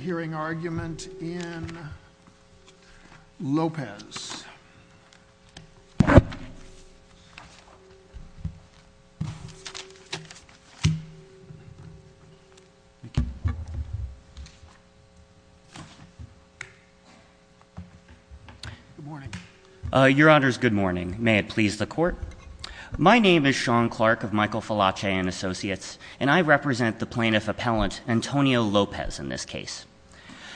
hearing argument in Lopez your honor's good morning may it please the court my name is Sean Clark of Michael falache and associates and I represent the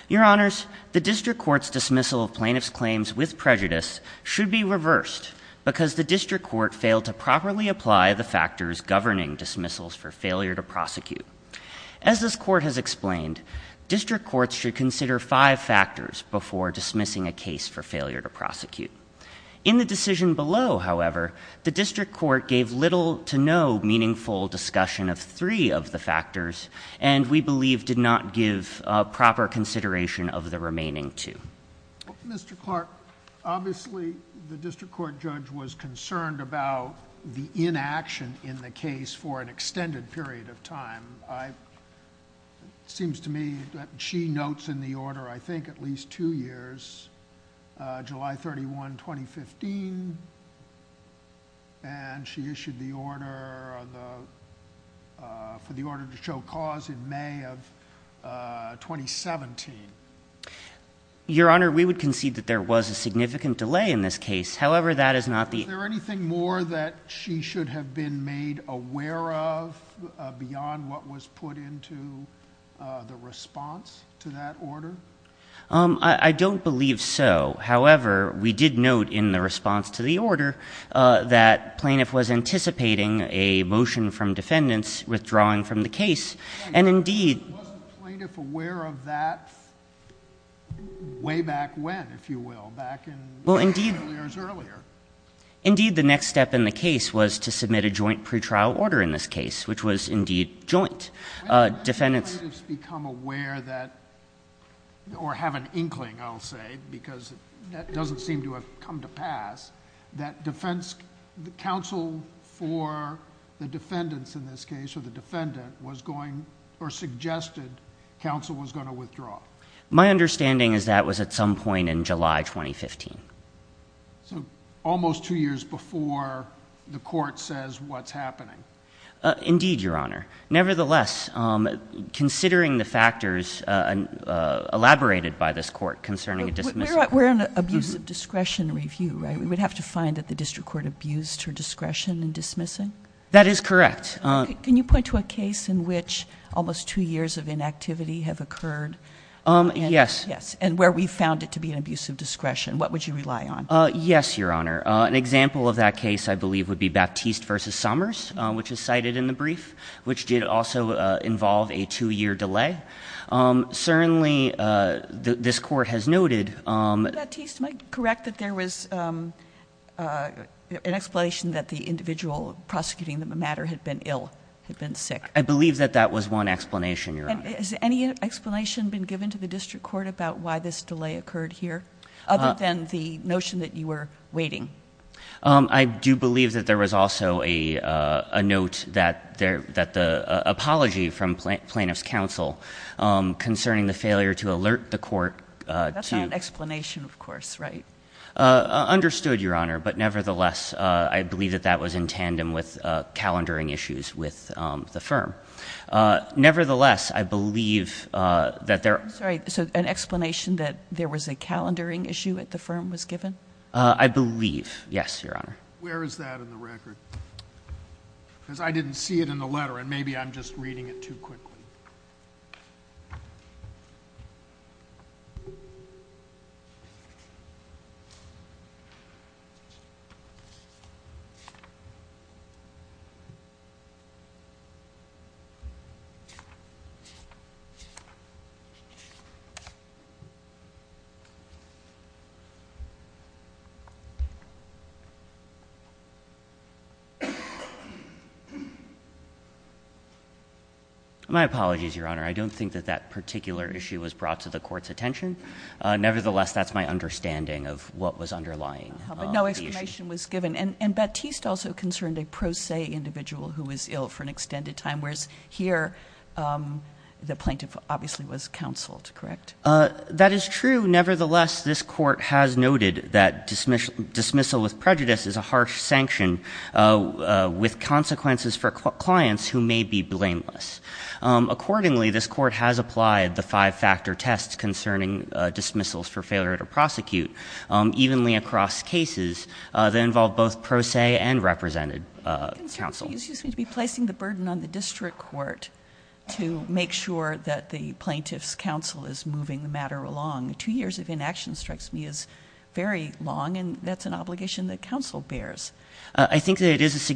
your honors the district court's dismissal plaintiff's claims with prejudice should be reversed because the district court failed to properly apply the factors governing dismissals for failure to prosecute as this court has explained district courts should consider five factors before dismissing a case for failure to prosecute in the decision below however the district court gave little to no meaningful discussion of three of the factors and we believe did not give proper consideration of the remaining to mr. Clark obviously the district court judge was concerned about the inaction in the case for an extended period of time I seems to me that she notes in the order I think at least two years July 31 2015 and she issued the order for the order to show cause in May of 2017 your honor we would concede that there was a significant delay in this case however that is not the there anything more that she should have been made aware of beyond what was put into the response to that order I don't believe so however we did note in the response to the order that plaintiff was anticipating a motion from defendants withdrawing from the case and indeed aware of that way back when if you will back in well indeed earlier indeed the next step in the case was to submit a joint pretrial order in this case which was indeed joint defendants become aware that or have an inkling I'll say because that doesn't seem to have come to pass that defense counsel for the defendants in this case or the defendant was going or suggested counsel was going to withdraw my understanding is that was at some point in July 2015 so almost two years before the court says what's happening indeed your honor nevertheless considering the factors and elaborated by this court concerning a dismissal we're an abuse of discretion review right we would have to find that the district court abused her discretion and dismissing that is correct can you point to a case in which almost two years of inactivity have occurred yes yes and where we found it to be an abuse of discretion what would you rely on yes your honor an example of that case I believe would be Baptiste versus Summers which is cited in the brief which did also involve a two-year delay certainly this court has noted that there was an explanation that the individual prosecuting them a matter had been ill had been sick I believe that that was one explanation is any explanation been given to the district court about why this delay occurred here other than the notion that you were waiting I do believe that there was also a note that there that the apology from plaintiff's counsel concerning the failure to alert the court to explanation of course right understood your honor but nevertheless I believe that that was in tandem with calendaring issues with the firm nevertheless I believe that they're sorry so an explanation that there was a calendaring issue at the firm was given I believe yes your honor where is that in the record because I didn't see it in the letter and maybe I'm just reading it too quickly my apologies your honor I don't think that that particular issue was brought to the court's attention nevertheless that's my understanding of what was underlying no explanation was given and Baptiste also concerned a pro se individual who was ill for an extended time whereas here the plaintiff obviously was counseled correct that is true nevertheless this court has noted that dismissal dismissal with prejudice is a harsh sanction with consequences for clients who may be blameless accordingly this court has applied the five-factor tests concerning dismissals for failure to prosecute evenly across cases that involve both pro se and represented counsel excuse me to be placing the burden on the district court to make sure that the plaintiff's counsel is moving the matter along two years of inaction strikes me as very long and that's an obligation that counsel bears I think that it is a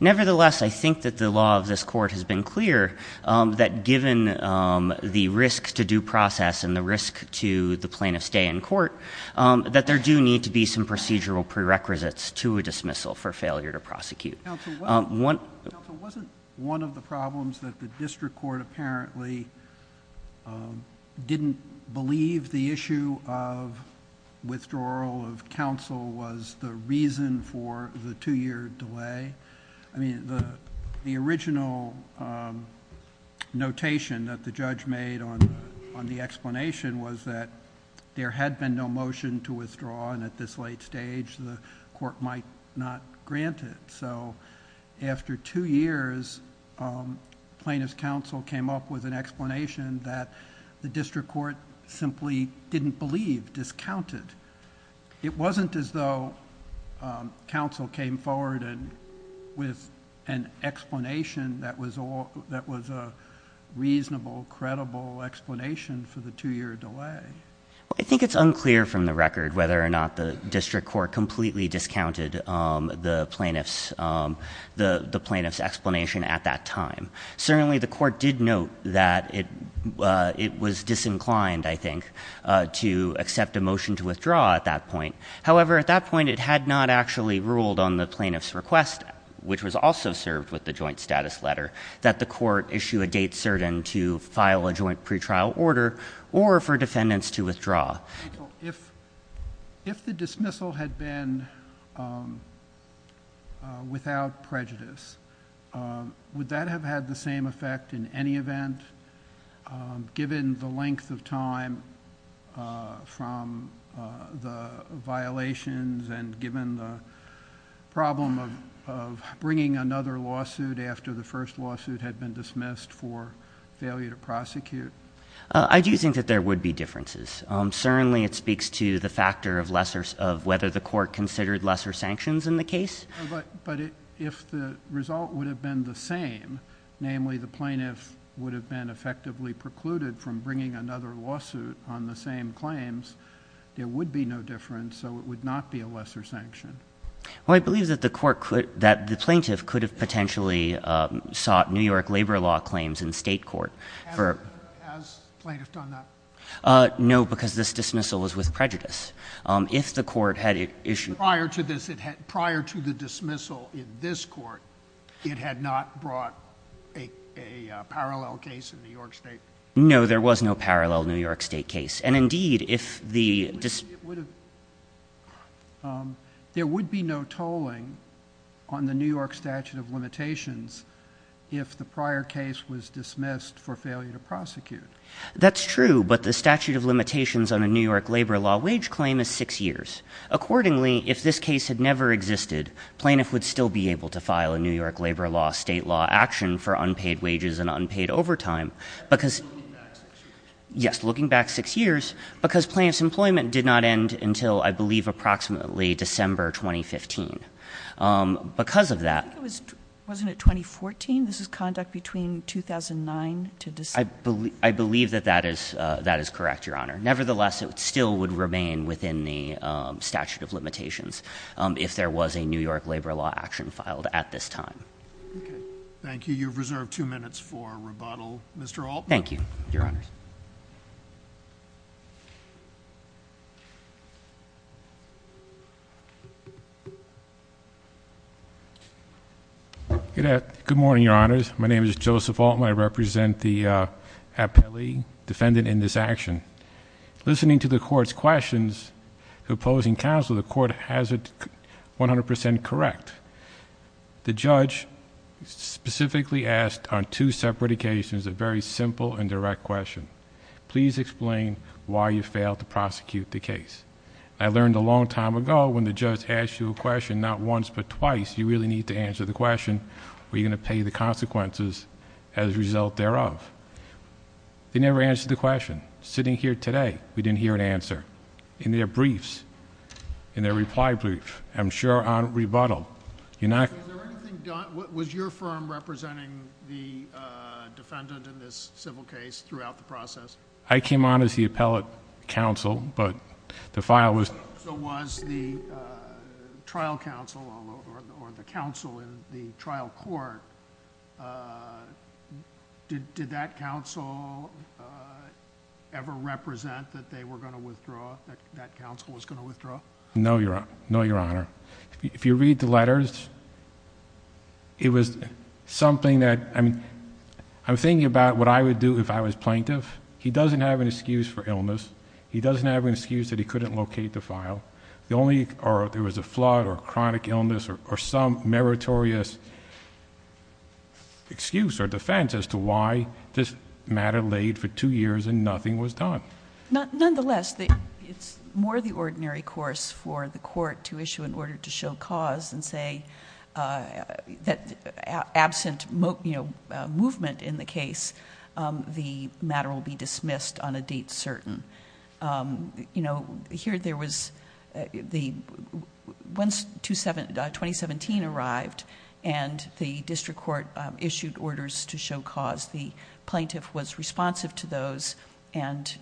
nevertheless I think that the law of this court has been clear that given the risk to due process and the risk to the plaintiff's day in court that there do need to be some procedural prerequisites to a dismissal for failure to prosecute one wasn't one of the problems that the district court apparently didn't believe the issue of withdrawal of counsel was the reason for the two-year delay I mean the the original notation that the judge made on on the explanation was that there had been no motion to withdraw and at this late stage the court might not grant it so after two years plaintiff's counsel came up with an explanation that the district court simply didn't believe discounted it wasn't as though counsel came forward and with an explanation that was all that was a reasonable credible explanation for the two-year delay I think it's unclear from the record whether or not the district court completely discounted the plaintiff's the the plaintiff's explanation at that time certainly the court did note that it it was disinclined I think to accept a motion to withdraw at that point however at that point it had not actually ruled on the plaintiff's request which was also served with the joint status letter that the court issue a date certain to file a joint pretrial order or for defendants to withdraw if if the dismissal had been without prejudice would that have had the same effect in any event given the length of time from the violations and given the problem of bringing another lawsuit after the first lawsuit had been dismissed for failure to prosecute I do think that there would be differences certainly it speaks to the factor of whether the court considered lesser sanctions in the case but if the result would have been the same namely the plaintiff would have been effectively precluded from bringing another lawsuit on the same claims there would be no difference so it would not be a lesser sanction I believe that the court could that the plaintiff could have potentially sought New York labor law claims in state court no because this dismissal was with prejudice if the court had prior to this prior to the dismissal in this court it had not brought a parallel case in New York State no there was no parallel New York State case and indeed if the there would be no tolling on the New York statute of limitations on a New York labor law wage claim is six years accordingly if this case had never existed plaintiff would still be able to file a New York labor law state law action for unpaid wages and unpaid overtime because yes looking back six years because plants employment did not end until I believe approximately December 2015 because of that it was wasn't it 2014 this is conduct between 2009 to this I believe I believe that that is that is correct your honor nevertheless it still would remain within the statute of limitations if there was a New York labor law action filed at this time thank you you've got good morning your honors my name is Joseph Altman I represent the appellee defendant in this action listening to the court's questions opposing counsel the court has it 100% correct the judge specifically asked on two separate occasions a very simple and direct question please explain why you failed to prosecute the case I learned a long time ago when the judge asked you a question not once but twice you really need to answer the question we're going to pay the consequences as a result thereof they never answered the question sitting here today we didn't hear an answer in their briefs in their reply brief I'm sure on rebuttal you're not was your firm representing the defendant in this civil case throughout the process I came on as the appellate counsel but the file was the trial counsel or the counsel in the trial court did that counsel ever represent that they were going to withdraw no you're not your honor if you read the letters it was something that I mean I'm thinking about what I would do if I was plaintiff he doesn't have an excuse for illness he doesn't have an excuse that he couldn't locate the file the only or there was a flood or chronic illness or some meritorious excuse or defense as to why this matter laid for two years and nothing was done not nonetheless that it's more the ordinary course for the court to issue in order to show cause and say that absent movement in the case the matter will be dismissed on a date certain you know here there was the once to seven 2017 arrived and the district court issued orders to show cause the plaintiff was responsive to those and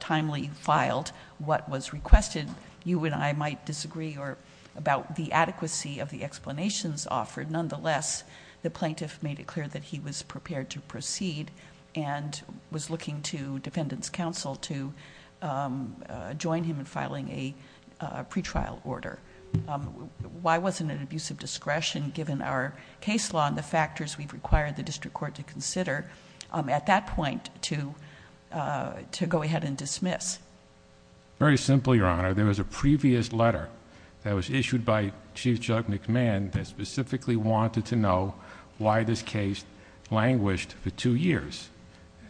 timely filed what was requested you and I might disagree or about the adequacy of the explanations offered nonetheless the plaintiff made it clear that he was prepared to proceed and was looking to defendants counsel to join him in filing a pretrial order why wasn't an abusive discretion given our case law and the factors we've required the district court to consider at that point to to go ahead and dismiss very simply your honor there was a previous letter that was issued by Chief Judge McMahon specifically wanted to know why this case languished for two years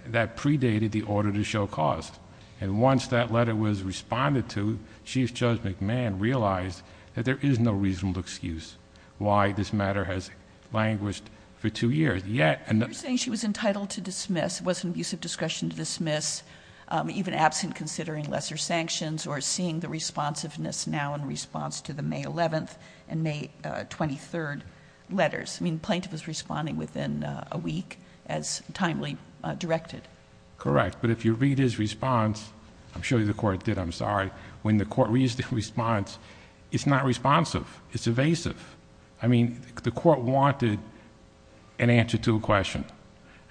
that predated the order to show cost and once that letter was responded to Chief Judge McMahon realized that there is no reasonable excuse why this matter has languished for two years yet and the saying she was entitled to dismiss was an abusive discretion to dismiss even absent considering lesser sanctions or seeing the responsiveness now in response to the May 11th and May 23rd letters I mean plaintiff was responding within a week as timely directed correct but if you read his response I'm sure you the court did I'm sorry when the court reads the response it's not responsive it's evasive I mean the court wanted an answer to a question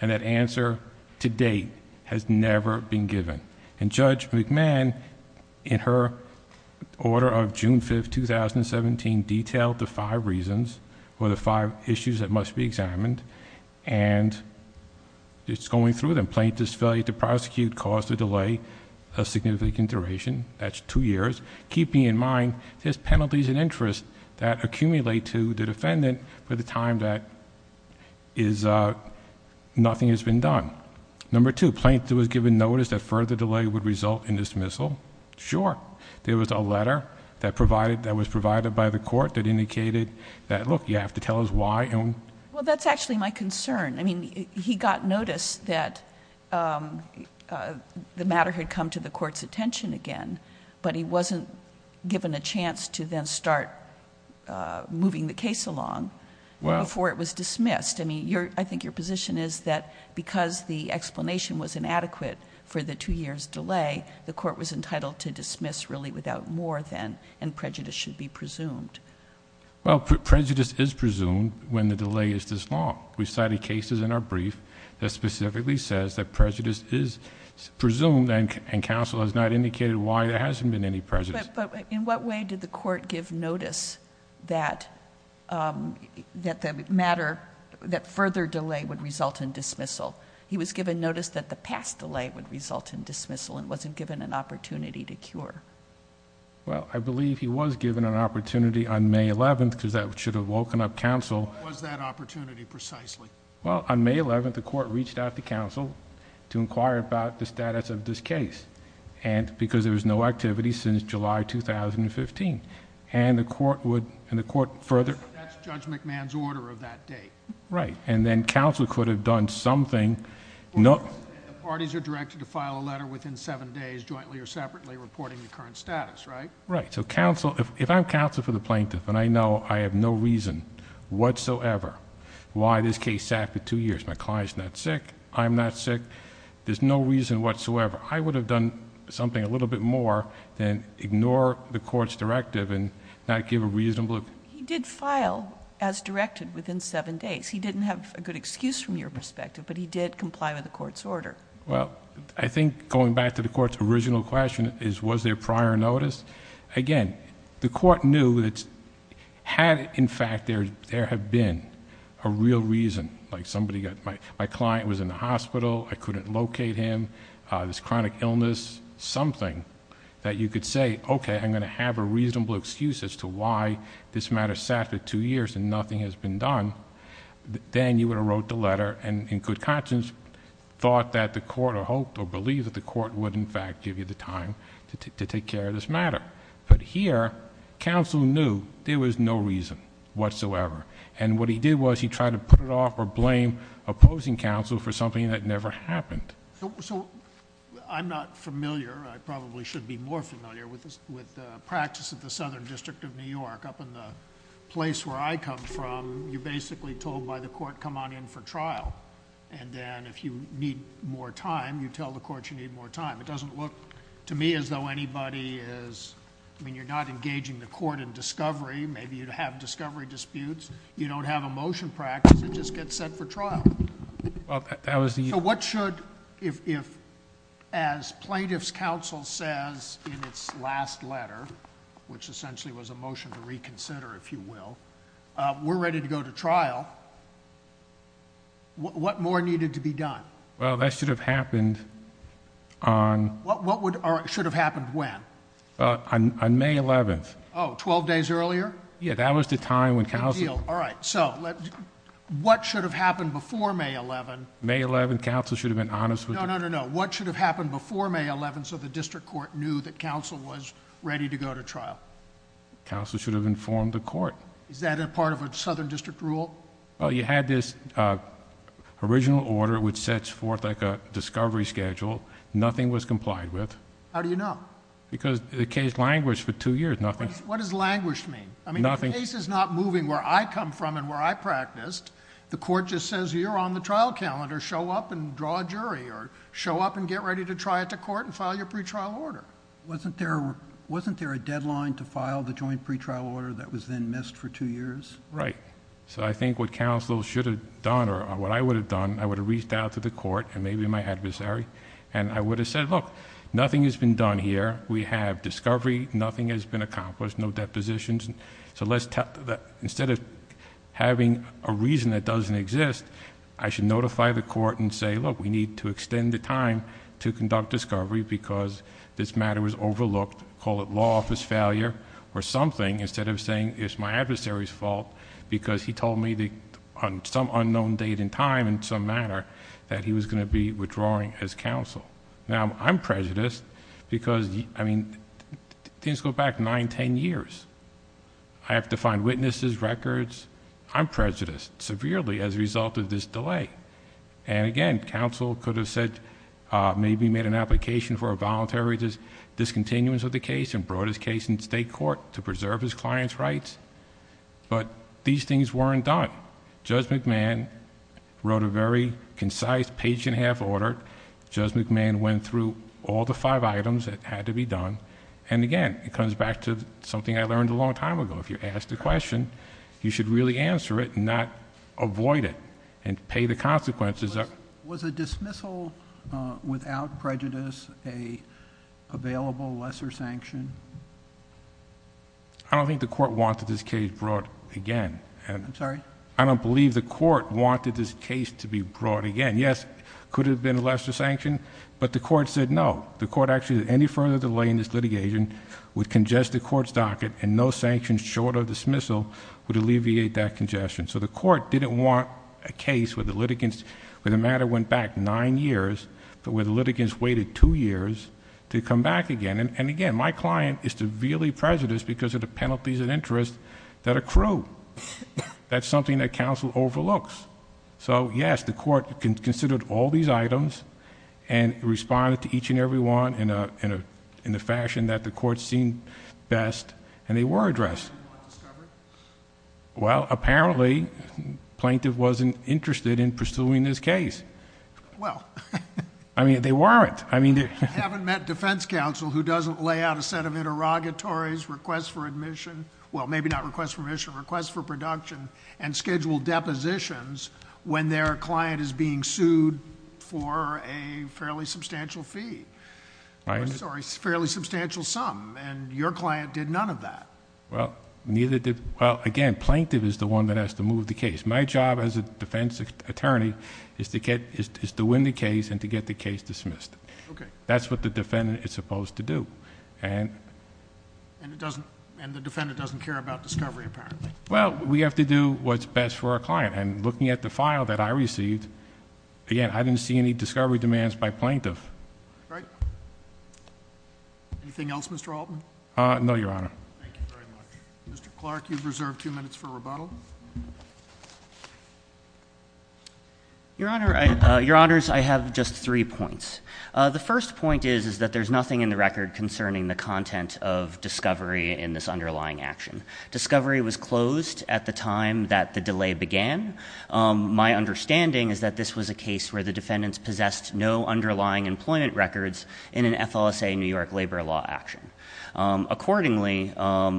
and that answer today has never been given and Judge McMahon in her order of June 5th 2017 detailed the five reasons or the five issues that must be examined and it's going through them plaintiffs failure to prosecute cause to delay a significant duration that's two years keeping in mind there's penalties and interest that accumulate to the defendant for the time that is nothing has been done number two plaintiff was given notice that further delay would result in dismissal sure there was a letter that provided that was provided by the court that indicated that look you have to tell us why and well that's actually my concern I mean he got notice that the matter had come to the court's attention again but he wasn't given a chance to then start moving the case along well before it was dismissed I mean your I think your position is that because the explanation was inadequate for the two years delay the court was entitled to dismiss really without more than and prejudice should be presumed well prejudice is presumed when the delay is this long we cited cases in our brief that specifically says that prejudice is presumed and counsel has not indicated why there hasn't been any prejudice but in what way did the court give notice that that the matter that further delay would result in dismissal he was given notice that the past delay would result in dismissal and wasn't given an opportunity to cure well I believe he was given an opportunity on May 11th because that should have woken up counsel was that opportunity precisely well on May 11th the court reached out to counsel to inquire about the status of this case and because there was no activity since July 2015 and the court would in the court further judge McMahon's order of that date right and then counsel could have done something no parties are directed to file a letter within seven days jointly or separately reporting the current status right right so counsel if I'm counsel for the plaintiff and I know I have no reason whatsoever why this case sat for two years my clients not sick I'm not sick there's no reason whatsoever I would have done something a little bit more than ignore the court's directive and not give a reasonable he did file as directed within seven days he didn't have a good excuse from your perspective but he did comply with the court's order well I think going back to the court's original question is was there prior notice again the court knew that had in fact there there have been a real reason like somebody got my my client was in the hospital I couldn't locate him this chronic illness something that you could say okay I'm gonna have a reasonable excuse as to why this matter sat for two years and nothing has been done then you would have wrote the letter and in good conscience thought that the court or hoped or believed that the court would in fact give you the time to take care of this matter but here counsel knew there was no reason whatsoever and what he did was he tried to put it off or blame opposing counsel for something that never happened so I'm not familiar I probably should be more familiar with this with practice at the Southern District of New York up in the place where I come from you're basically told by the court come on in for trial and then if you need more time you tell the court you need more time it doesn't look to me as though anybody is I mean you're not engaging the court in discovery maybe you'd have discovery disputes you don't have a motion practice it just gets set for trial that was the what should if as plaintiffs counsel says in its last letter which essentially was a motion to reconsider if you will we're ready to go to trial what more needed to be done well that should have happened on what would or it should have happened when on May 11th Oh 12 days earlier yeah that was the time when counsel all right so what should have happened before May 11 May 11 council should have been honest with no no no what should have happened before May 11th so the district court knew that counsel was ready to go to trial counsel should have informed the court is that a part of a southern district rule well you had this original order which sets forth like a discovery schedule nothing was complied with how do you know because the case languished for two years nothing what is languished mean I mean nothing is not moving where I come from and where I practiced the court just says you're on the trial calendar show up and draw a jury or show up and get ready to try it to court and file your pretrial order wasn't there wasn't there a deadline to file the joint pretrial order that was then missed for two years right so I think what counsel should have done or what I would have done I would have reached out to the court and maybe my adversary and I would have said look nothing has been done here we have discovery nothing has been accomplished no depositions and so let's tell that instead of having a reason that doesn't exist I should notify the court and say look we need to extend the time to conduct discovery because this matter was overlooked call it law office failure or something instead of saying it's my adversaries fault because he told me the on some unknown date and time and some matter that he was going to be withdrawing as counsel now I'm prejudiced because I mean things go back nine ten years I have to find witnesses records I'm prejudiced severely as a result of this delay and again counsel could have said maybe made an application for a voluntary just discontinuance of the case and brought his case in state court to preserve his clients rights but these things weren't done judge McMahon wrote a very concise page and a half order judge McMahon went through all the five items that had to be done and again it comes back to something I learned a long time ago if you ask the question you should really answer it not avoid it and pay the consequences up was a dismissal without prejudice a available lesser sanction I don't think the court wanted this case to be brought again and I'm sorry I don't believe the court wanted this case to be brought again yes could have been a lesser sanction but the court said no the court actually any further delay in this litigation would congest the court's docket and no sanctions short of dismissal would alleviate that congestion so the court didn't want a case where the litigants where the matter went back nine years but where the litigants waited two years to come back again and again my client is severely prejudiced because of the penalties and interest that accrue that's something that counsel overlooks so yes the court can consider all these items and responded to each and every one in a in a in the fashion that the court seemed best and they were addressed well apparently plaintiff wasn't interested in pursuing this case well I mean they weren't I mean they haven't met defense counsel who doesn't lay out a set of interrogatories requests for admission well maybe not request for mission requests for production and schedule depositions when their client is being sued for a fairly substantial fee I'm sorry fairly substantial sum and your client did none of that well neither did well again plaintiff is the one that has to move the case my job as a defense attorney is to get is to win the case and to get the case dismissed okay that's what the defendant is supposed to do and and it doesn't and the defendant doesn't care about discovery apparently well we have to do what's best for a client and looking at the file that I received again I didn't see any discovery demands by plaintiff right anything else mr. Altman no your honor mr. Clark you've reserved two minutes for rebuttal your honors I have just three points the first point is is that there's nothing in the record concerning the content of discovery in this underlying action discovery was closed at the time that the delay began my understanding is that this was a case where the defendants possessed no underlying employment records in an FLSA New York labor law action accordingly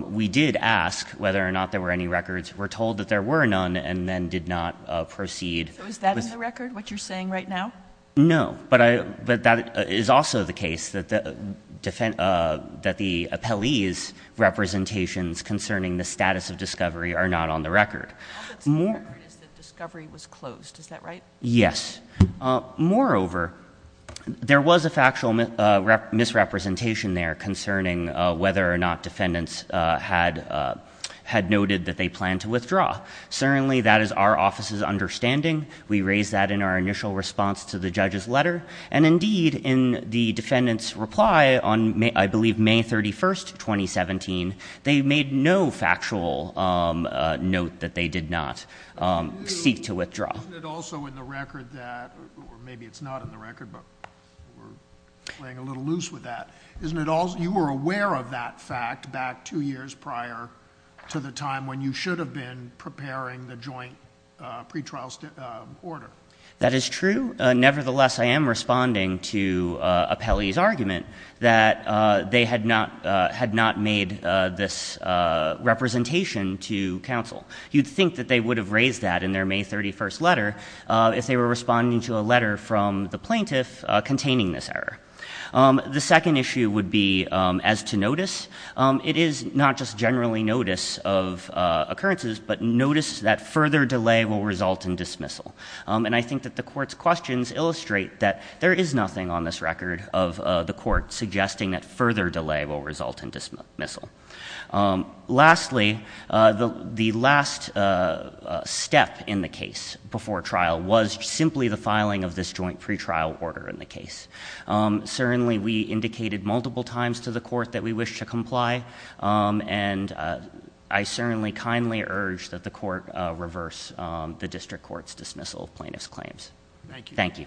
we did ask whether or not there were any records were told that there were none and then did not proceed was that in the record what you're saying right now no but I but that is also the case that the defend that the appellees representations concerning the status of discovery are not on the record discovery was closed is that right yes moreover there was a factual misrepresentation there concerning whether or not defendants had had noted that they plan to withdraw certainly that is our office's understanding we raised that in our initial response to the judge's letter and indeed in the defendants reply on may I believe May 31st 2017 they made no factual note that they did not seek to withdraw isn't it all you were aware of that fact back two years prior to the time when you should have been preparing the joint pretrial order that is true nevertheless I am responding to a Pelly's argument that they had not had not made this representation to counsel you'd think that they would have raised that in their May 31st letter if they were responding to a letter from the plaintiff containing this error the second issue would be as to notice it is not just generally notice of occurrences but notice that further delay will result in dismissal and I think that the court's questions illustrate that there is nothing on this record of the court suggesting that further delay will result in dismissal lastly the the last step in the case before trial was simply the filing of this joint pretrial order in the case certainly we indicated multiple times to the court that we wish to comply and I certainly kindly urge that the court reverse the district courts dismissal plaintiffs claims thank you thank you